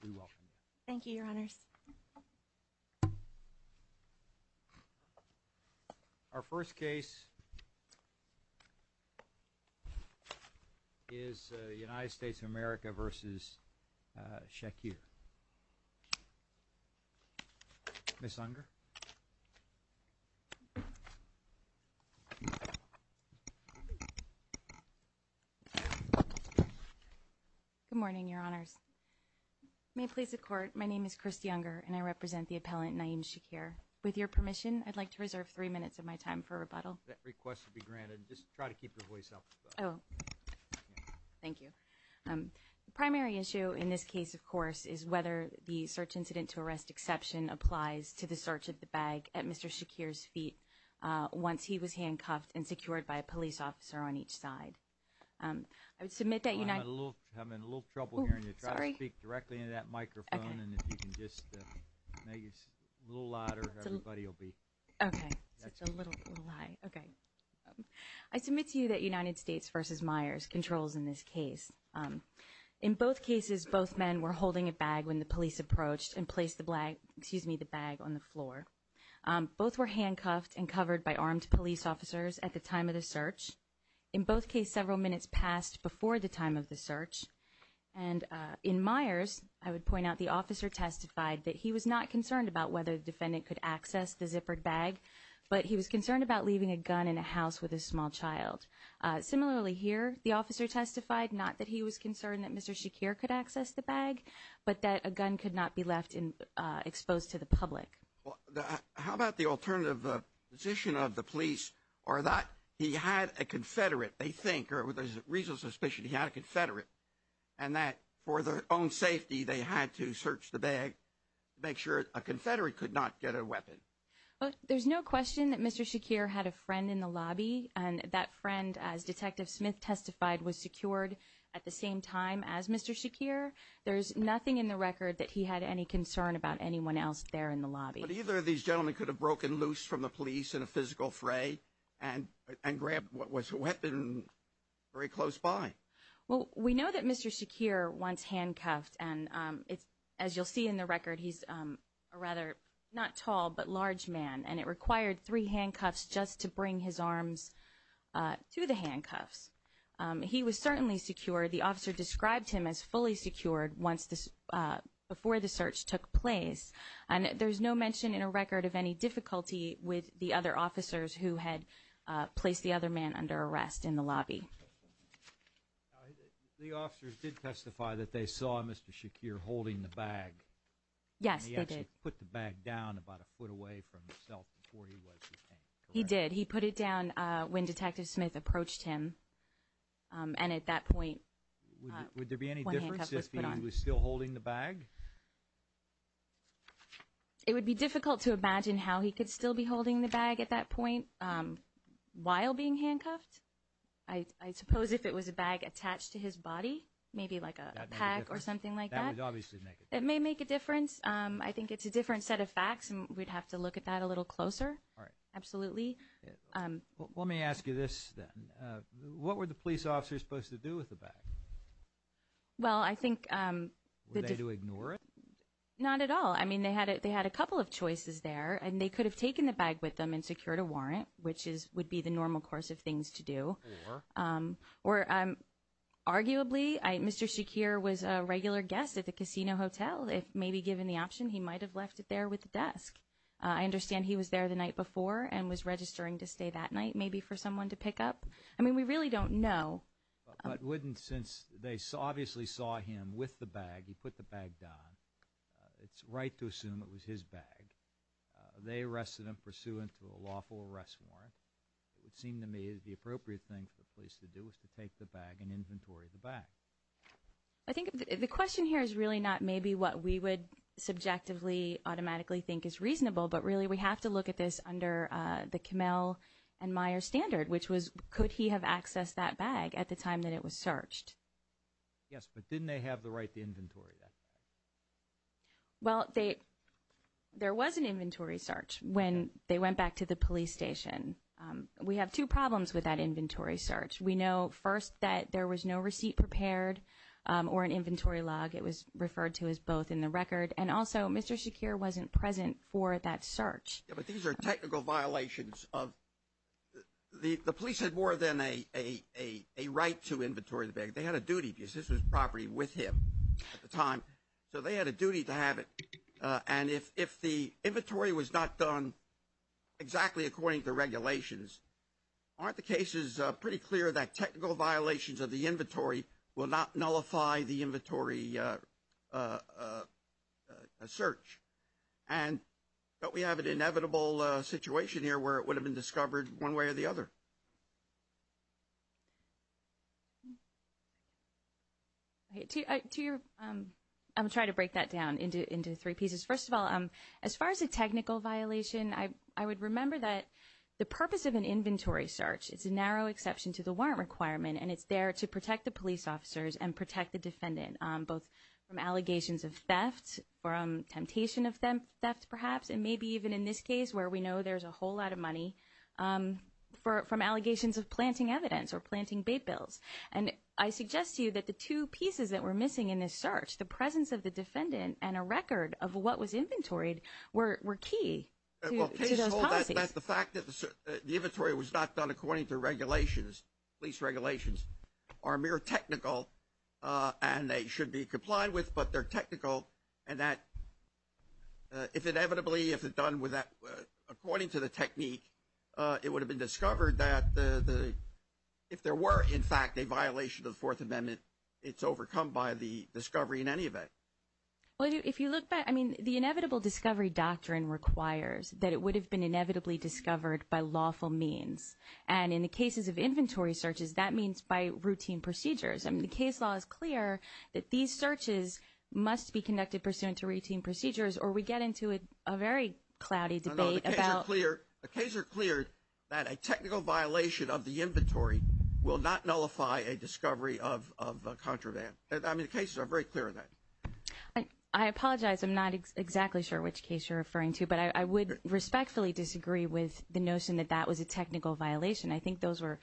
And we welcome you. Thank you, Your Honors. Our first case is the United States of America v. Shakir. Ms. Unger. Good morning, Your Honors. May it please the Court, my name is Kristi Unger, and I represent the appellant, Naeem Shakir. With your permission, I'd like to reserve three minutes of my time for rebuttal. That request will be granted. Just try to keep your voice up. Oh, thank you. The primary issue in this case, of course, is whether the search incident to arrest exception applies to the search of the bag at Mr. Shakir's feet once he was handcuffed and secured by a police officer on each side. I would submit that United— I'm having a little trouble hearing you. Sorry. Try to speak directly into that microphone, and if you can just make it a little louder, everybody will be— Okay. That's a little high. Okay. I submit to you that United States v. Myers controls in this case. In both cases, both men were holding a bag when the police approached and placed the bag on the floor. Both were handcuffed and covered by armed police officers at the time of the search. In both cases, several minutes passed before the time of the search. And in Myers, I would point out the officer testified that he was not concerned about whether the defendant could access the zippered bag, but he was concerned about leaving a gun in a house with a small child. Similarly here, the officer testified not that he was concerned that Mr. Shakir could access the bag, but that a gun could not be left exposed to the public. How about the alternative position of the police, or that he had a Confederate, they think, or there's a reasonable suspicion he had a Confederate, and that for their own safety they had to search the bag to make sure a Confederate could not get a weapon? There's no question that Mr. Shakir had a friend in the lobby, and that friend, as Detective Smith testified, was secured at the same time as Mr. Shakir. There's nothing in the record that he had any concern about anyone else there in the lobby. But either of these gentlemen could have broken loose from the police in a physical fray and grabbed what was a weapon very close by. Well, we know that Mr. Shakir once handcuffed, and as you'll see in the record, he's a rather not tall but large man, and it required three handcuffs just to bring his arms to the handcuffs. He was certainly secured. The officer described him as fully secured before the search took place, and there's no mention in a record of any difficulty with the other officers who had placed the other man under arrest in the lobby. The officers did testify that they saw Mr. Shakir holding the bag. Yes, they did. He actually put the bag down about a foot away from himself before he was detained, correct? He did. He put it down when Detective Smith approached him, and at that point one handcuff was put on. Would there be any difference if he was still holding the bag? It would be difficult to imagine how he could still be holding the bag at that point while being handcuffed. I suppose if it was a bag attached to his body, maybe like a pack or something like that. That would obviously make a difference. It may make a difference. I think it's a different set of facts, and we'd have to look at that a little closer. All right. Absolutely. Let me ask you this, then. What were the police officers supposed to do with the bag? Well, I think the – Were they to ignore it? Not at all. I mean, they had a couple of choices there, and they could have taken the bag with them and secured a warrant, which would be the normal course of things to do. Or? Or arguably, Mr. Shakir was a regular guest at the casino hotel. If maybe given the option, he might have left it there with the desk. I understand he was there the night before and was registering to stay that night, maybe for someone to pick up. I mean, we really don't know. But wouldn't, since they obviously saw him with the bag, he put the bag down, it's right to assume it was his bag. They arrested him pursuant to a lawful arrest warrant. It would seem to me the appropriate thing for the police to do is to take the bag and inventory the bag. I think the question here is really not maybe what we would subjectively automatically think is reasonable, but really we have to look at this under the Kamel and Meyer standard, which was could he have accessed that bag at the time that it was searched. Yes, but didn't they have the right to inventory that bag? Well, there was an inventory search when they went back to the police station. We have two problems with that inventory search. We know, first, that there was no receipt prepared or an inventory log. It was referred to as both in the record. And also, Mr. Shakir wasn't present for that search. Yes, but these are technical violations. The police had more than a right to inventory the bag. They had a duty because this was property with him at the time, so they had a duty to have it. And if the inventory was not done exactly according to regulations, aren't the cases pretty clear that technical violations of the inventory will not nullify the inventory search? And don't we have an inevitable situation here where it would have been discovered one way or the other? I'm going to try to break that down into three pieces. First of all, as far as a technical violation, I would remember that the purpose of an inventory search, it's a narrow exception to the warrant requirement, and it's there to protect the police officers and protect the defendant, both from allegations of theft or temptation of theft, perhaps, and maybe even in this case where we know there's a whole lot of money, from allegations of planting evidence or planting bait bills. And I suggest to you that the two pieces that we're missing in this search, the presence of the defendant and a record of what was inventoried, were key to those policies. The fact that the inventory was not done according to regulations, police regulations, are mere technical, and they should be complied with, but they're technical, and that if inevitably, if it's done according to the technique, it would have been discovered that if there were, in fact, a violation of the Fourth Amendment, it's overcome by the discovery in any event. Well, if you look back, I mean, the inevitable discovery doctrine requires that it would have been inevitably discovered by lawful means. And in the cases of inventory searches, that means by routine procedures. I mean, the case law is clear that these searches must be conducted pursuant to routine procedures, or we get into a very cloudy debate about— No, the cases are clear that a technical violation of the inventory will not nullify a discovery of contraband. I mean, the cases are very clear on that. I apologize. I'm not exactly sure which case you're referring to, but I would respectfully disagree with the notion that that was a technical violation. I think those are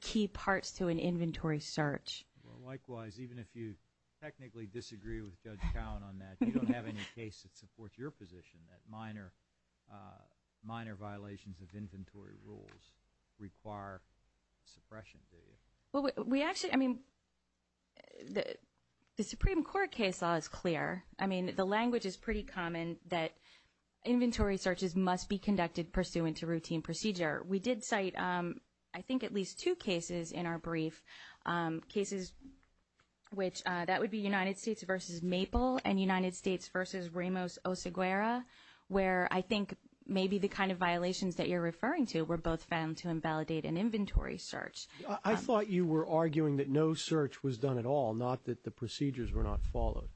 key parts to an inventory search. Well, likewise, even if you technically disagree with Judge Cowen on that, you don't have any case that supports your position that minor violations of inventory rules require suppression, do you? Well, we actually—I mean, the Supreme Court case law is clear. I mean, the language is pretty common that inventory searches must be conducted pursuant to routine procedure. We did cite, I think, at least two cases in our brief, cases which—that would be United States v. Maple and United States v. Ramos Oseguera, where I think maybe the kind of violations that you're referring to were both found to invalidate an inventory search. I thought you were arguing that no search was done at all, not that the procedures were not followed,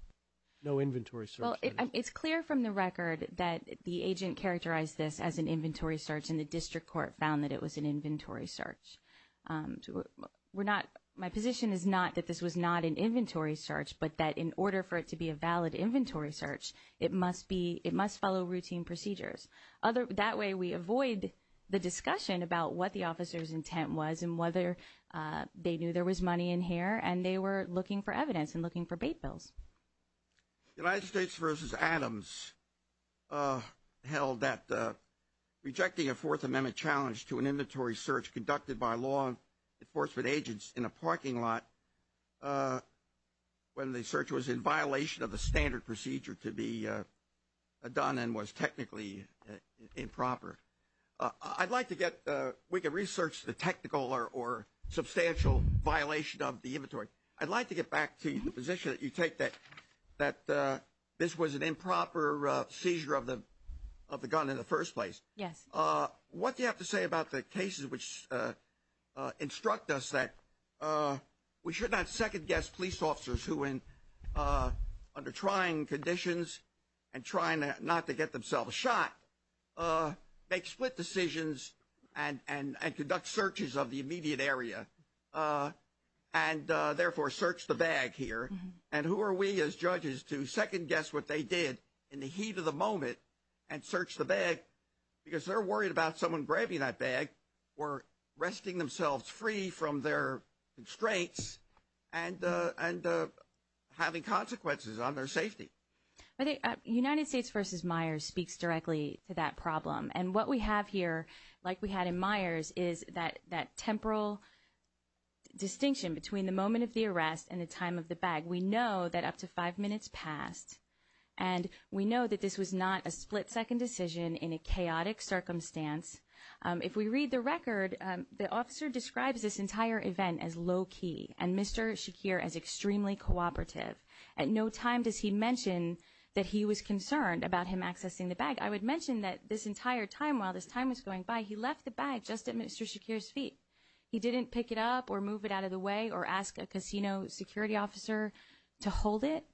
no inventory search. Well, it's clear from the record that the agent characterized this as an inventory search, and the district court found that it was an inventory search. We're not—my position is not that this was not an inventory search, but that in order for it to be a valid inventory search, it must be—it must follow routine procedures. That way we avoid the discussion about what the officer's intent was and whether they knew there was money in here and they were looking for evidence and looking for bait bills. United States v. Adams held that rejecting a Fourth Amendment challenge to an inventory search conducted by law enforcement agents in a parking lot when the search was in violation of the standard procedure to be done and was technically improper. I'd like to get—we could research the technical or substantial violation of the inventory. I'd like to get back to the position that you take, that this was an improper seizure of the gun in the first place. Yes. What do you have to say about the cases which instruct us that we should not second-guess police officers who, under trying conditions and trying not to get themselves shot, make split decisions and conduct searches of the immediate area and therefore search the bag here? And who are we as judges to second-guess what they did in the heat of the moment and search the bag because they're worried about someone grabbing that bag or resting themselves free from their constraints and having consequences on their safety? I think United States v. Myers speaks directly to that problem. And what we have here, like we had in Myers, is that temporal distinction between the moment of the arrest and the time of the bag. We know that up to five minutes passed, and we know that this was not a split-second decision in a chaotic circumstance. If we read the record, the officer describes this entire event as low-key and Mr. Shakir as extremely cooperative. At no time does he mention that he was concerned about him accessing the bag. I would mention that this entire time, while this time was going by, he left the bag just at Mr. Shakir's feet. He didn't pick it up or move it out of the way or ask a casino security officer to hold it.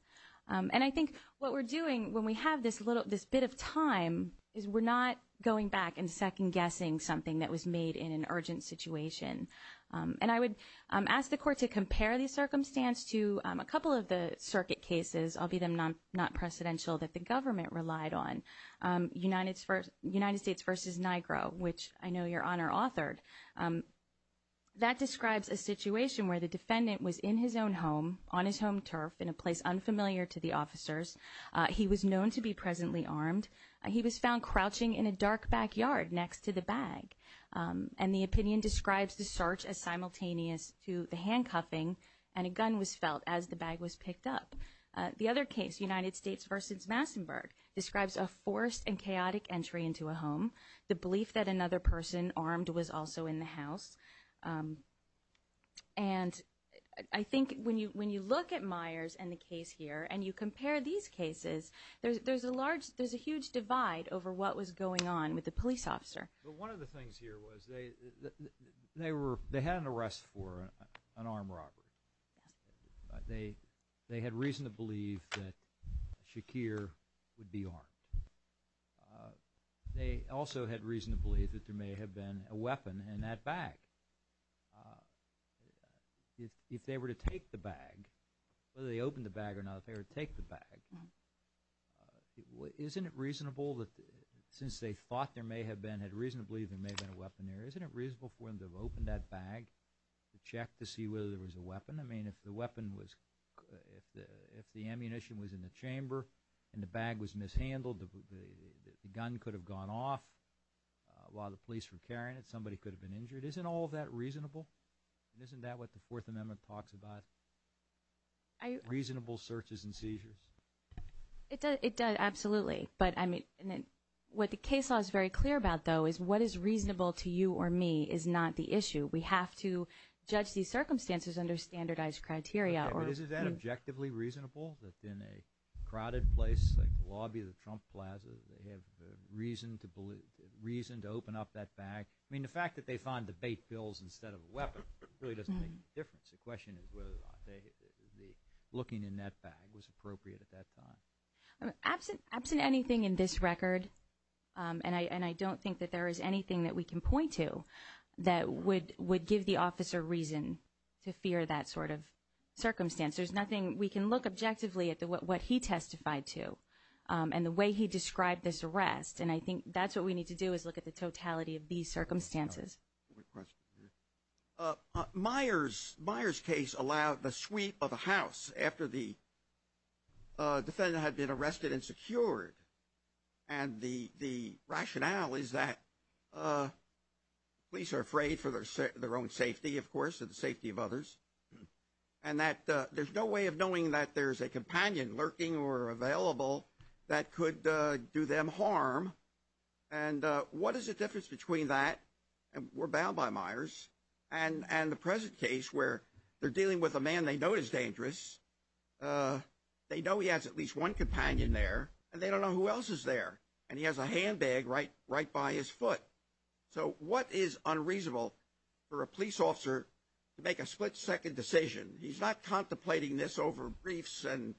And I think what we're doing when we have this bit of time is we're not going back and second-guessing something that was made in an urgent situation. And I would ask the Court to compare the circumstance to a couple of the circuit cases, albeit not precedential, that the government relied on, United States v. NIGRO, which I know Your Honor authored. That describes a situation where the defendant was in his own home, on his home turf, in a place unfamiliar to the officers. He was known to be presently armed. He was found crouching in a dark backyard next to the bag. And the opinion describes the search as simultaneous to the handcuffing, and a gun was felt as the bag was picked up. The other case, United States v. Massenburg, describes a forced and chaotic entry into a home, the belief that another person armed was also in the house. And I think when you look at Myers and the case here and you compare these cases, there's a huge divide over what was going on with the police officer. But one of the things here was they had an arrest for an armed robbery. They had reason to believe that Shakir would be armed. They also had reason to believe that there may have been a weapon in that bag. If they were to take the bag, whether they opened the bag or not, if they were to take the bag, isn't it reasonable that since they thought there may have been, had reason to believe there may have been a weapon there, isn't it reasonable for them to have opened that bag to check to see whether there was a weapon? I mean, if the ammunition was in the chamber and the bag was mishandled, the gun could have gone off while the police were carrying it, somebody could have been injured. Isn't all of that reasonable? And isn't that what the Fourth Amendment talks about, reasonable searches and seizures? It does, absolutely. What the case law is very clear about, though, is what is reasonable to you or me is not the issue. We have to judge these circumstances under standardized criteria. But isn't that objectively reasonable that in a crowded place like the lobby of the Trump Plaza, they have reason to open up that bag? I mean, the fact that they find debate bills instead of a weapon really doesn't make a difference. The question is whether or not looking in that bag was appropriate at that time. Absent anything in this record, and I don't think that there is anything that we can point to that would give the officer reason to fear that sort of circumstance. We can look objectively at what he testified to and the way he described this arrest, and I think that's what we need to do is look at the totality of these circumstances. Myer's case allowed the sweep of a house after the defendant had been arrested and secured. And the rationale is that police are afraid for their own safety, of course, and the safety of others, and that there's no way of knowing that there's a companion lurking or available that could do them harm. And what is the difference between that? We're bound by Myer's. And the present case where they're dealing with a man they know is dangerous. They know he has at least one companion there, and they don't know who else is there. And he has a handbag right by his foot. So what is unreasonable for a police officer to make a split-second decision? He's not contemplating this over briefs and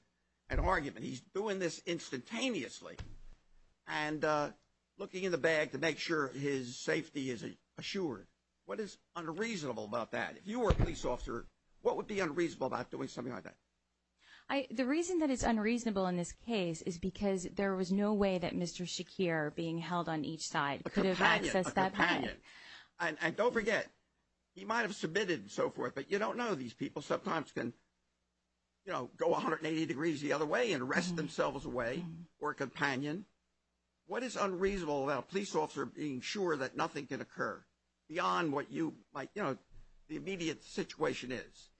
argument. He's doing this instantaneously and looking in the bag to make sure his safety is assured. What is unreasonable about that? If you were a police officer, what would be unreasonable about doing something like that? The reason that it's unreasonable in this case is because there was no way that Mr. Shakir, being held on each side, could have accessed that companion. And don't forget, he might have submitted and so forth, but you don't know these people sometimes can, you know, go 180 degrees the other way and arrest themselves away or a companion. What is unreasonable about a police officer being sure that nothing can occur beyond what you might, you know, the immediate situation is?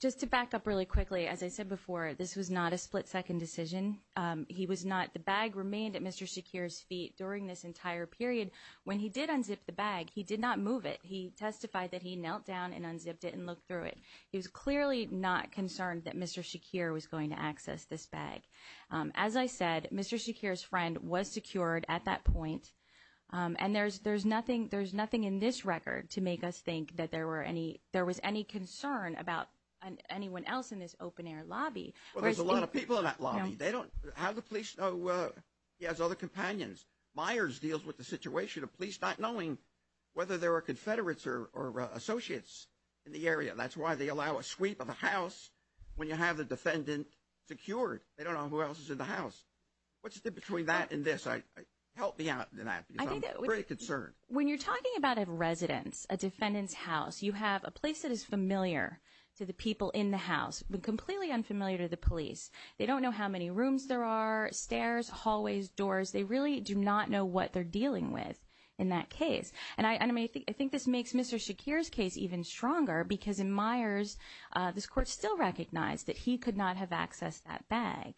Just to back up really quickly, as I said before, this was not a split-second decision. The bag remained at Mr. Shakir's feet during this entire period. When he did unzip the bag, he did not move it. He testified that he knelt down and unzipped it and looked through it. He was clearly not concerned that Mr. Shakir was going to access this bag. As I said, Mr. Shakir's friend was secured at that point, and there's nothing in this record to make us think that there was any concern about anyone else in this open-air lobby. Well, there's a lot of people in that lobby. They don't have the police know he has other companions. Myers deals with the situation of police not knowing whether there are Confederates or Associates in the area. That's why they allow a sweep of the house when you have the defendant secured. They don't know who else is in the house. What's the difference between that and this? Help me out on that because I'm pretty concerned. When you're talking about a residence, a defendant's house, you have a place that is familiar to the people in the house but completely unfamiliar to the police. They really do not know what they're dealing with in that case. I think this makes Mr. Shakir's case even stronger because in Myers, this court still recognized that he could not have accessed that bag.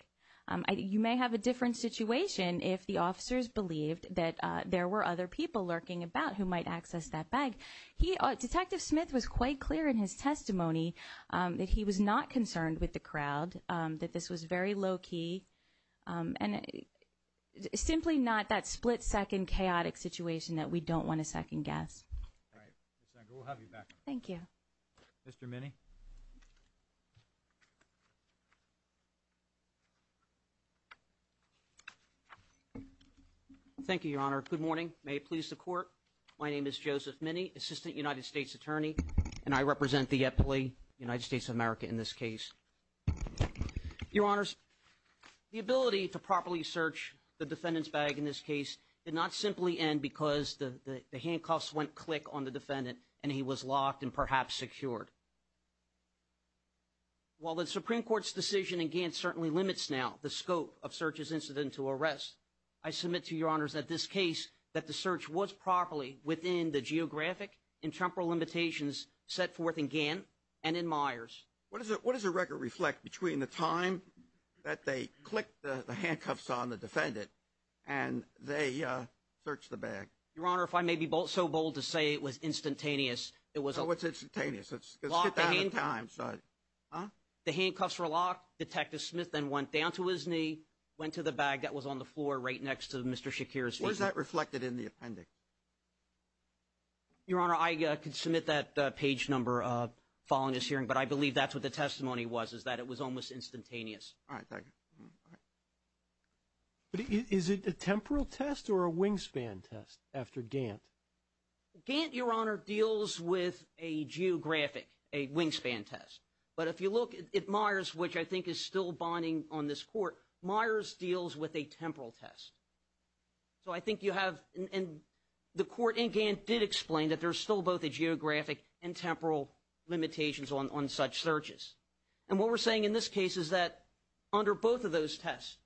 You may have a different situation if the officers believed that there were other people lurking about who might access that bag. Detective Smith was quite clear in his testimony that he was not concerned with the crowd, that this was very low-key. It's simply not that split-second chaotic situation that we don't want to second-guess. All right. Ms. Nagle, we'll have you back. Thank you. Mr. Minney. Thank you, Your Honor. Good morning. May it please the Court, my name is Joseph Minney, Assistant United States Attorney, and I represent the Epley United States of America in this case. Your Honors, the ability to properly search the defendant's bag in this case did not simply end because the handcuffs went click on the defendant and he was locked and perhaps secured. While the Supreme Court's decision in Gantt certainly limits now the scope of search's incident to arrest, I submit to Your Honors that this case, that the search was properly within the geographic and temporal limitations set forth in Gantt and in Myers. What does the record reflect between the time that they clicked the handcuffs on the defendant and they searched the bag? Your Honor, if I may be so bold to say it was instantaneous. So what's instantaneous? Locked the handcuffs. The handcuffs were locked. Detective Smith then went down to his knee, went to the bag that was on the floor right next to Mr. Shakir's. What does that reflect in the appendix? Your Honor, I could submit that page number following this hearing, but I believe that's what the testimony was, is that it was almost instantaneous. All right. Thank you. But is it a temporal test or a wingspan test after Gantt? Gantt, Your Honor, deals with a geographic, a wingspan test. But if you look at Myers, which I think is still bonding on this court, Myers deals with a temporal test. So I think you have, and the court in Gantt did explain that there's still both a geographic and temporal limitations on such searches. And what we're saying in this case is that under both of those tests,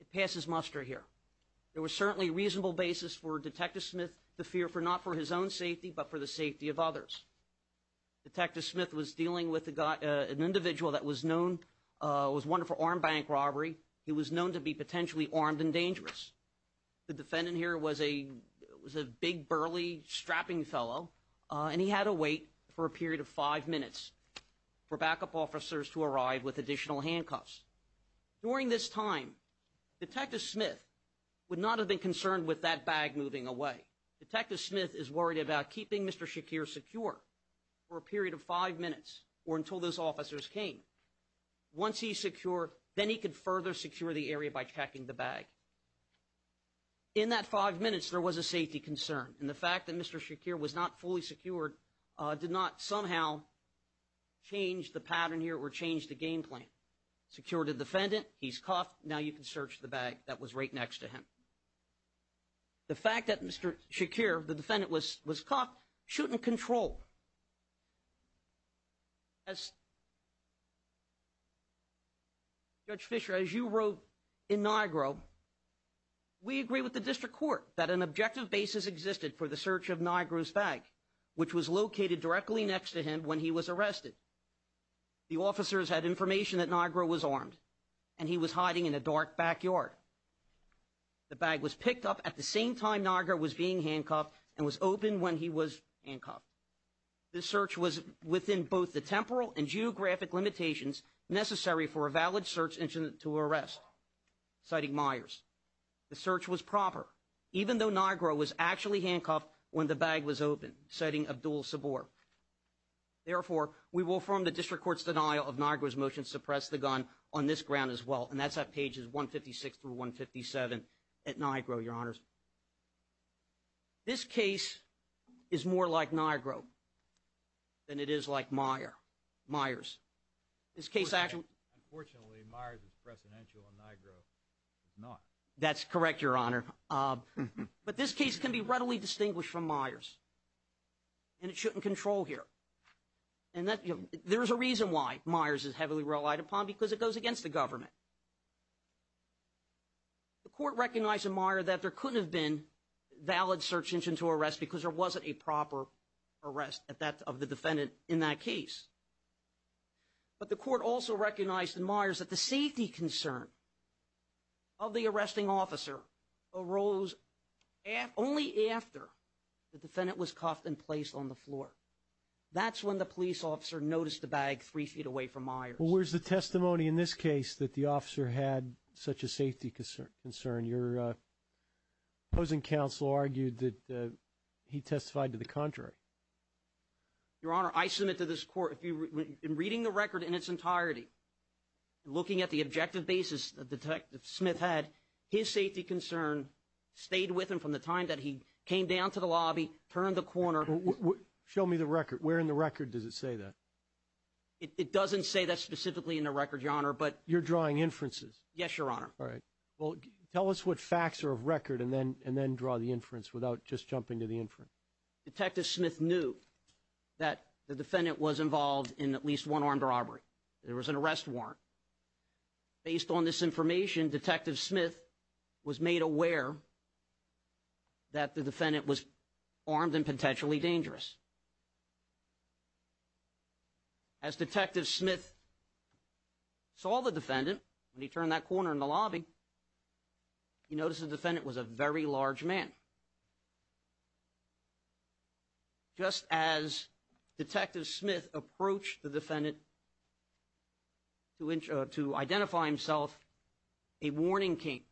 it passes muster here. There was certainly a reasonable basis for Detective Smith to fear not for his own safety but for the safety of others. Detective Smith was dealing with an individual that was known, was wanted for armed bank robbery. He was known to be potentially armed and dangerous. The defendant here was a big, burly strapping fellow, and he had to wait for a period of five minutes for backup officers to arrive with additional handcuffs. During this time, Detective Smith would not have been concerned with that bag moving away. Detective Smith is worried about keeping Mr. Shakir secure for a period of five minutes or until those officers came. Once he's secure, then he could further secure the area by checking the bag. In that five minutes, there was a safety concern. And the fact that Mr. Shakir was not fully secured did not somehow change the pattern here or change the game plan. Secured the defendant. He's cuffed. Now you can search the bag that was right next to him. The fact that Mr. Shakir, the defendant, was cuffed shouldn't control. As Judge Fisher, as you wrote in NIGRO, we agree with the district court that an objective basis existed for the search of NIGRO's bag, which was located directly next to him when he was arrested. The officers had information that NIGRO was armed and he was hiding in a dark backyard. The bag was picked up at the same time NIGRO was being handcuffed and was open when he was handcuffed. The search was within both the temporal and geographic limitations necessary for a valid search engine to arrest, citing Myers. The search was proper, even though NIGRO was actually handcuffed when the bag was open, citing Abdul-Sabur. Therefore, we will affirm the district court's denial of NIGRO's motion to suppress the gun on this ground as well. And that's at pages 156 through 157 at NIGRO, Your Honors. This case is more like NIGRO than it is like Myers. Myers. Unfortunately, Myers is precedential and NIGRO is not. That's correct, Your Honor. But this case can be readily distinguished from Myers, and it shouldn't control here. And there is a reason why Myers is heavily relied upon, because it goes against the government. The court recognized in Myers that there couldn't have been a valid search engine to arrest because there wasn't a proper arrest of the defendant in that case. But the court also recognized in Myers that the safety concern of the arresting officer arose only after the defendant was cuffed and placed on the floor. That's when the police officer noticed the bag three feet away from Myers. Well, where's the testimony in this case that the officer had such a safety concern? Your opposing counsel argued that he testified to the contrary. Your Honor, I submit to this court, in reading the record in its entirety, looking at the objective basis that Detective Smith had, his safety concern stayed with him from the time that he came down to the lobby, turned the corner. Show me the record. Where in the record does it say that? It doesn't say that specifically in the record, Your Honor. You're drawing inferences. Yes, Your Honor. All right. Well, tell us what facts are of record and then draw the inference without just jumping to the inference. Detective Smith knew that the defendant was involved in at least one armed robbery. There was an arrest warrant. Based on this information, Detective Smith was made aware that the defendant was armed and potentially dangerous. As Detective Smith saw the defendant when he turned that corner in the lobby, he noticed the defendant was a very large man. Just as Detective Smith approached the defendant to identify himself, a warning came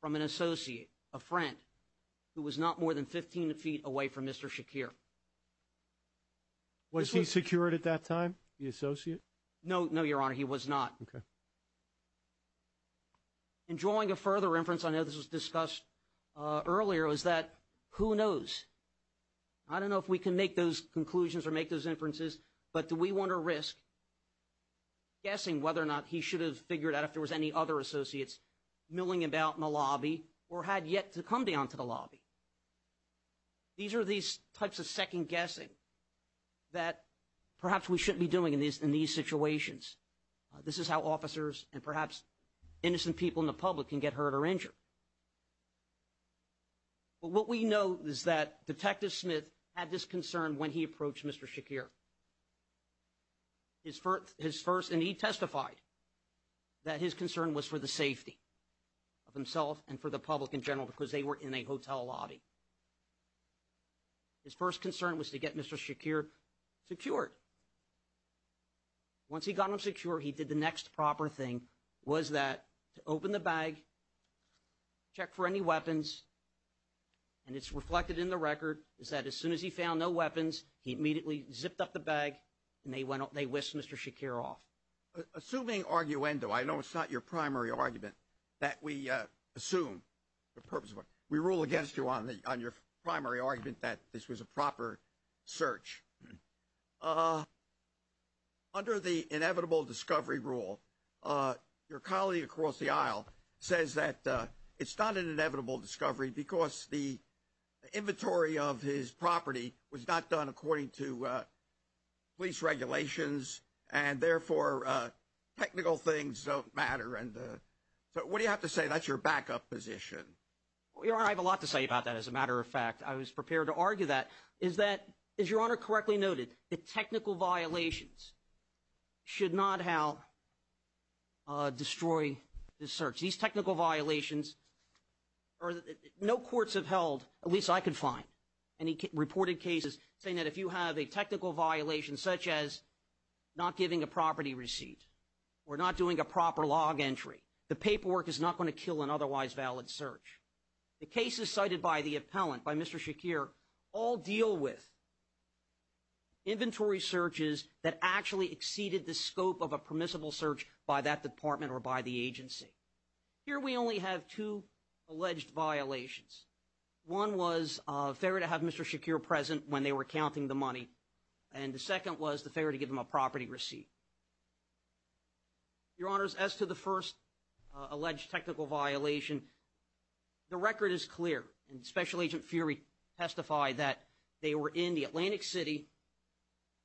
from an associate, a friend, who was not more than 15 feet away from Mr. Shakir. Was he secured at that time, the associate? No, Your Honor. He was not. Okay. In drawing a further inference, I know this was discussed earlier, is that who knows? I don't know if we can make those conclusions or make those inferences, but do we want to risk guessing whether or not he should have figured out if there was any other associates milling about in the lobby or had yet to come down to the lobby? These are these types of second guessing that perhaps we shouldn't be doing in these situations. This is how officers and perhaps innocent people in the public can get hurt or injured. But what we know is that Detective Smith had this concern when he approached Mr. Shakir. His first and he testified that his concern was for the safety of himself and for the public in general because they were in a hotel lobby. His first concern was to get Mr. Shakir secured. Once he got him secure, he did the next proper thing was that to open the bag, check for any weapons. And it's reflected in the record is that as soon as he found no weapons, he immediately zipped up the bag and they went up, they whisked Mr. Shakir off. Assuming arguendo, I know it's not your primary argument that we assume the purpose of what we rule against you on the on your primary argument that this was a proper search. Under the inevitable discovery rule, your colleague across the aisle says that it's not an inevitable discovery because the inventory of his property was not done according to police regulations. And therefore, technical things don't matter. And so what do you have to say? That's your backup position. I have a lot to say about that. As a matter of fact, I was prepared to argue that is that, as your honor correctly noted, the technical violations. Should not help. Destroy the search. These technical violations. No courts have held, at least I could find any reported cases saying that if you have a technical violation, such as not giving a property receipt. We're not doing a proper log entry. The paperwork is not going to kill an otherwise valid search. The cases cited by the appellant by Mr. Shakir all deal with. Inventory searches that actually exceeded the scope of a permissible search by that department or by the agency. Here, we only have two alleged violations. One was fair to have Mr. Shakir present when they were counting the money. And the second was the failure to give him a property receipt. Your honors, as to the first. Alleged technical violation. The record is clear and special agent fury testified that they were in the Atlantic City.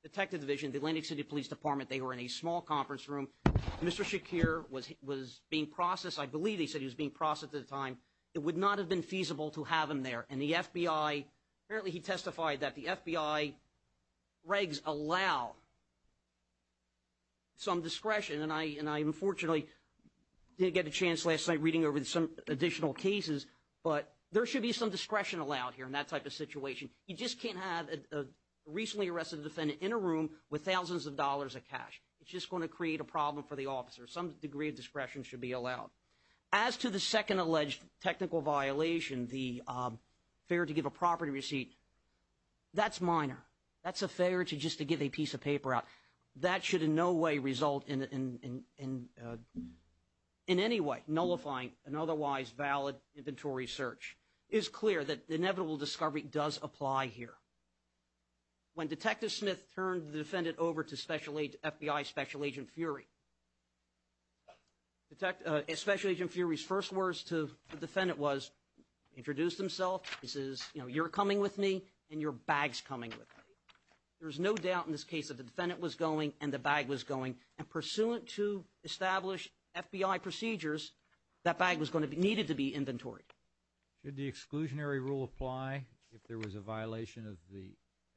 Detective division, the Atlantic City Police Department, they were in a small conference room. Mr. Shakir was was being processed. I believe he said he was being processed at the time. It would not have been feasible to have him there. And the FBI, apparently he testified that the FBI regs allow some discretion. And I unfortunately didn't get a chance last night reading over some additional cases. But there should be some discretion allowed here in that type of situation. You just can't have a recently arrested defendant in a room with thousands of dollars of cash. It's just going to create a problem for the officer. Some degree of discretion should be allowed. As to the second alleged technical violation, the failure to give a property receipt. That's minor. That's a failure to just to give a piece of paper out. That should in no way result in any way nullifying an otherwise valid inventory search. It is clear that the inevitable discovery does apply here. When Detective Smith turned the defendant over to FBI Special Agent Fury. Detective Special Agent Fury's first words to the defendant was, introduced himself. He says, you know, you're coming with me and your bag's coming with me. There's no doubt in this case that the defendant was going and the bag was going. And pursuant to established FBI procedures, that bag was going to be needed to be inventoried. Should the exclusionary rule apply if there was a violation of the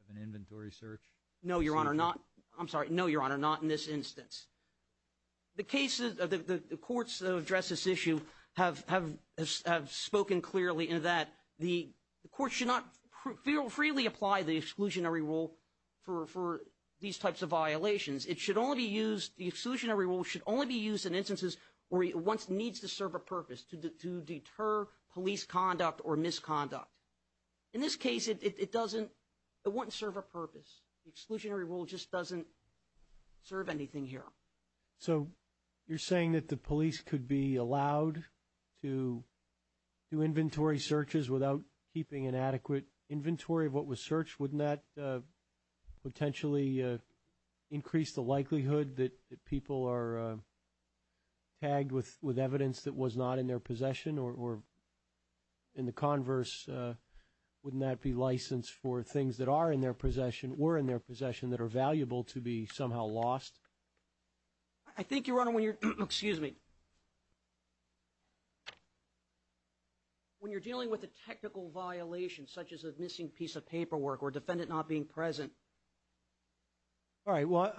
of an inventory search? No, Your Honor, not. I'm sorry. No, Your Honor, not in this instance. The courts that address this issue have spoken clearly in that the court should not freely apply the exclusionary rule for these types of violations. It should only be used, the exclusionary rule should only be used in instances where it needs to serve a purpose to deter police conduct or misconduct. In this case, it doesn't, it wouldn't serve a purpose. The exclusionary rule just doesn't serve anything here. So, you're saying that the police could be allowed to do inventory searches without keeping an adequate inventory of what was searched? Wouldn't that potentially increase the likelihood that people are tagged with evidence that was not in their possession? Or in the converse, wouldn't that be license for things that are in their possession or were in their possession that are valuable to be somehow lost? I think, Your Honor, when you're, excuse me, when you're dealing with a technical violation such as a missing piece of paperwork or a defendant not being present. All right, well,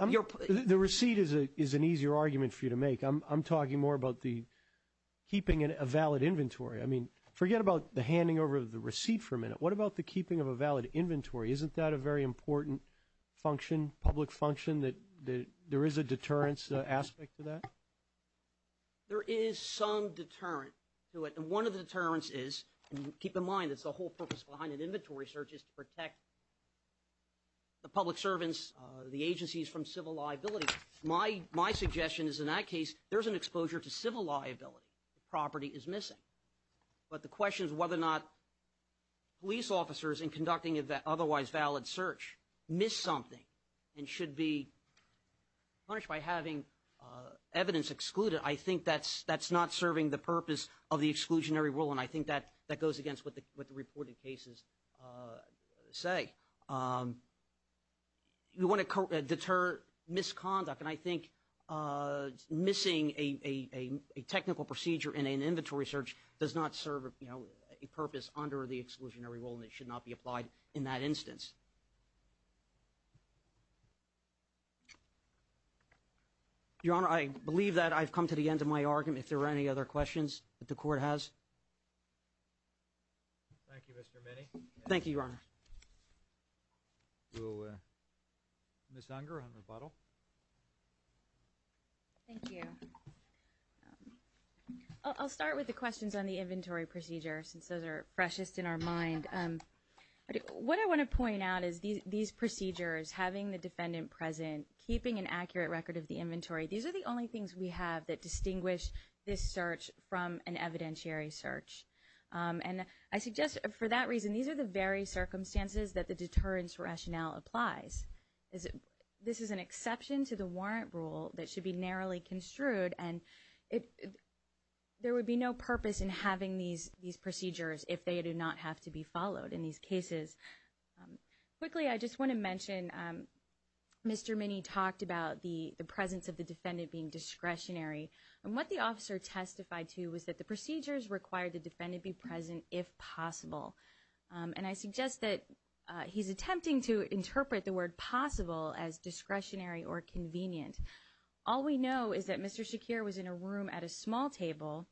the receipt is an easier argument for you to make. I'm talking more about the keeping a valid inventory. I mean, forget about the handing over of the receipt for a minute. What about the keeping of a valid inventory? Isn't that a very important function, public function, that there is a deterrence aspect to that? There is some deterrent to it. And one of the deterrents is, and keep in mind that's the whole purpose behind an inventory search is to protect the public servants, the agencies from civil liability. My suggestion is, in that case, there's an exposure to civil liability. The property is missing. But the question is whether or not police officers, in conducting an otherwise valid search, miss something and should be punished by having evidence excluded. I think that's not serving the purpose of the exclusionary rule, and I think that goes against what the reported cases say. You want to deter misconduct, and I think missing a technical procedure in an inventory search does not serve a purpose under the exclusionary rule, and it should not be applied in that instance. Your Honor, I believe that I've come to the end of my argument. If there are any other questions that the Court has? Thank you, Mr. Minney. Thank you, Your Honor. We'll miss Unger on rebuttal. Thank you. I'll start with the questions on the inventory procedure, since those are freshest in our mind. What I want to point out is these procedures, having the defendant present, keeping an accurate record of the inventory, these are the only things we have that distinguish this search from an evidentiary search. And I suggest, for that reason, these are the very circumstances that the deterrence rationale applies. This is an exception to the warrant rule that should be narrowly construed, and there would be no purpose in having these procedures if they do not have to be followed in these cases. Quickly, I just want to mention, Mr. Minney talked about the presence of the defendant being discretionary, and what the officer testified to was that the procedures required the defendant be present if possible. And I suggest that he's attempting to interpret the word possible as discretionary or convenient. All we know is that Mr. Shakir was in a room at a small table.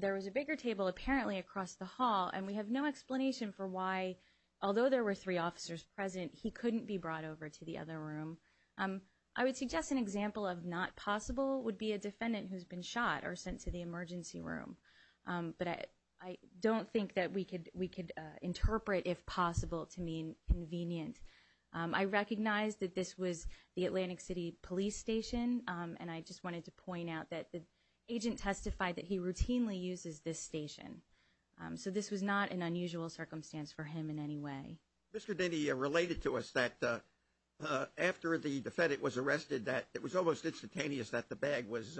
There was a bigger table apparently across the hall, and we have no explanation for why, although there were three officers present, he couldn't be brought over to the other room. I would suggest an example of not possible would be a defendant who's been shot or sent to the emergency room. But I don't think that we could interpret if possible to mean convenient. I recognize that this was the Atlantic City Police Station, and I just wanted to point out that the agent testified that he routinely uses this station. So this was not an unusual circumstance for him in any way. Mr. Denny related to us that after the defendant was arrested, that it was almost instantaneous that the bag was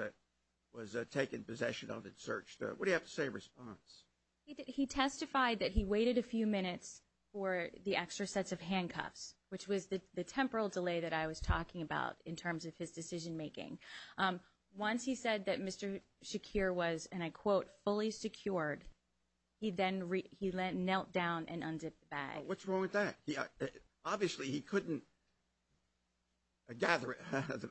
taken possession of and searched. What do you have to say in response? He testified that he waited a few minutes for the extra sets of handcuffs, which was the temporal delay that I was talking about in terms of his decision making. Once he said that Mr. Shakir was, and I quote, fully secured, he then knelt down and undid the bag. What's wrong with that? Obviously, he couldn't gather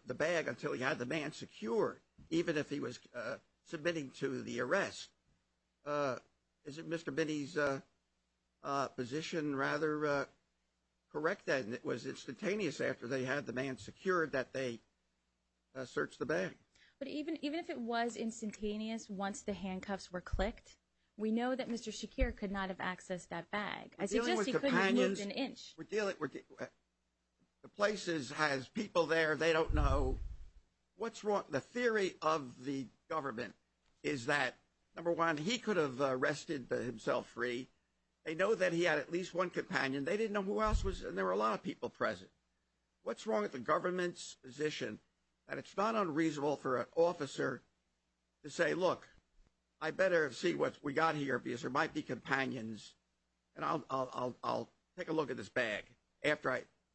the bag until he had the man secured, even if he was submitting to the arrest. Is it Mr. Denny's position rather correct then? It was instantaneous after they had the man secured that they searched the bag. But even if it was instantaneous once the handcuffs were clicked, we know that Mr. Shakir could not have accessed that bag. I suggest he could have moved an inch. We're dealing with companions. The place has people there. They don't know. What's wrong? The theory of the government is that, number one, he could have arrested himself free. They know that he had at least one companion. They didn't know who else was there, and there were a lot of people present. What's wrong with the government's position that it's not unreasonable for an officer to say, look, I better see what we got here because there might be companions, and I'll take a look at this bag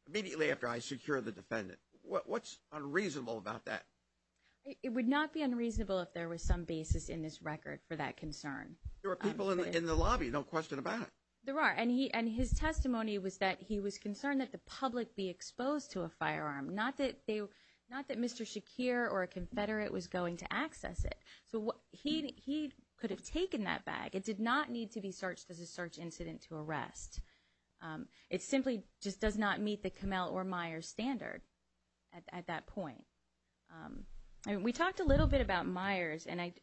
immediately after I secure the defendant? What's unreasonable about that? It would not be unreasonable if there was some basis in this record for that concern. There were people in the lobby, no question about it. There are. And his testimony was that he was concerned that the public be exposed to a firearm, not that Mr. Shakir or a confederate was going to access it. So he could have taken that bag. It did not need to be searched as a search incident to arrest. It simply just does not meet the Kamel or Myers standard at that point. We talked a little bit about Myers, and I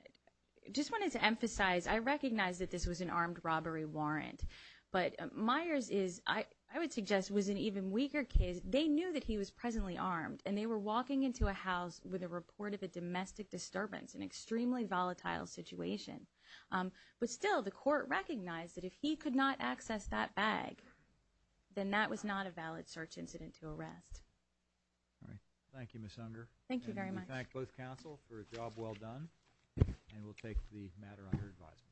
just wanted to emphasize, I recognize that this was an armed robbery warrant, but Myers is, I would suggest, was an even weaker case. They knew that he was presently armed, and they were walking into a house with a report of a domestic disturbance, an extremely volatile situation. But still, the court recognized that if he could not access that bag, then that was not a valid search incident to arrest. All right. Thank you, Ms. Unger. Thank you very much. We thank both counsel for a job well done, and we'll take the matter under advisement.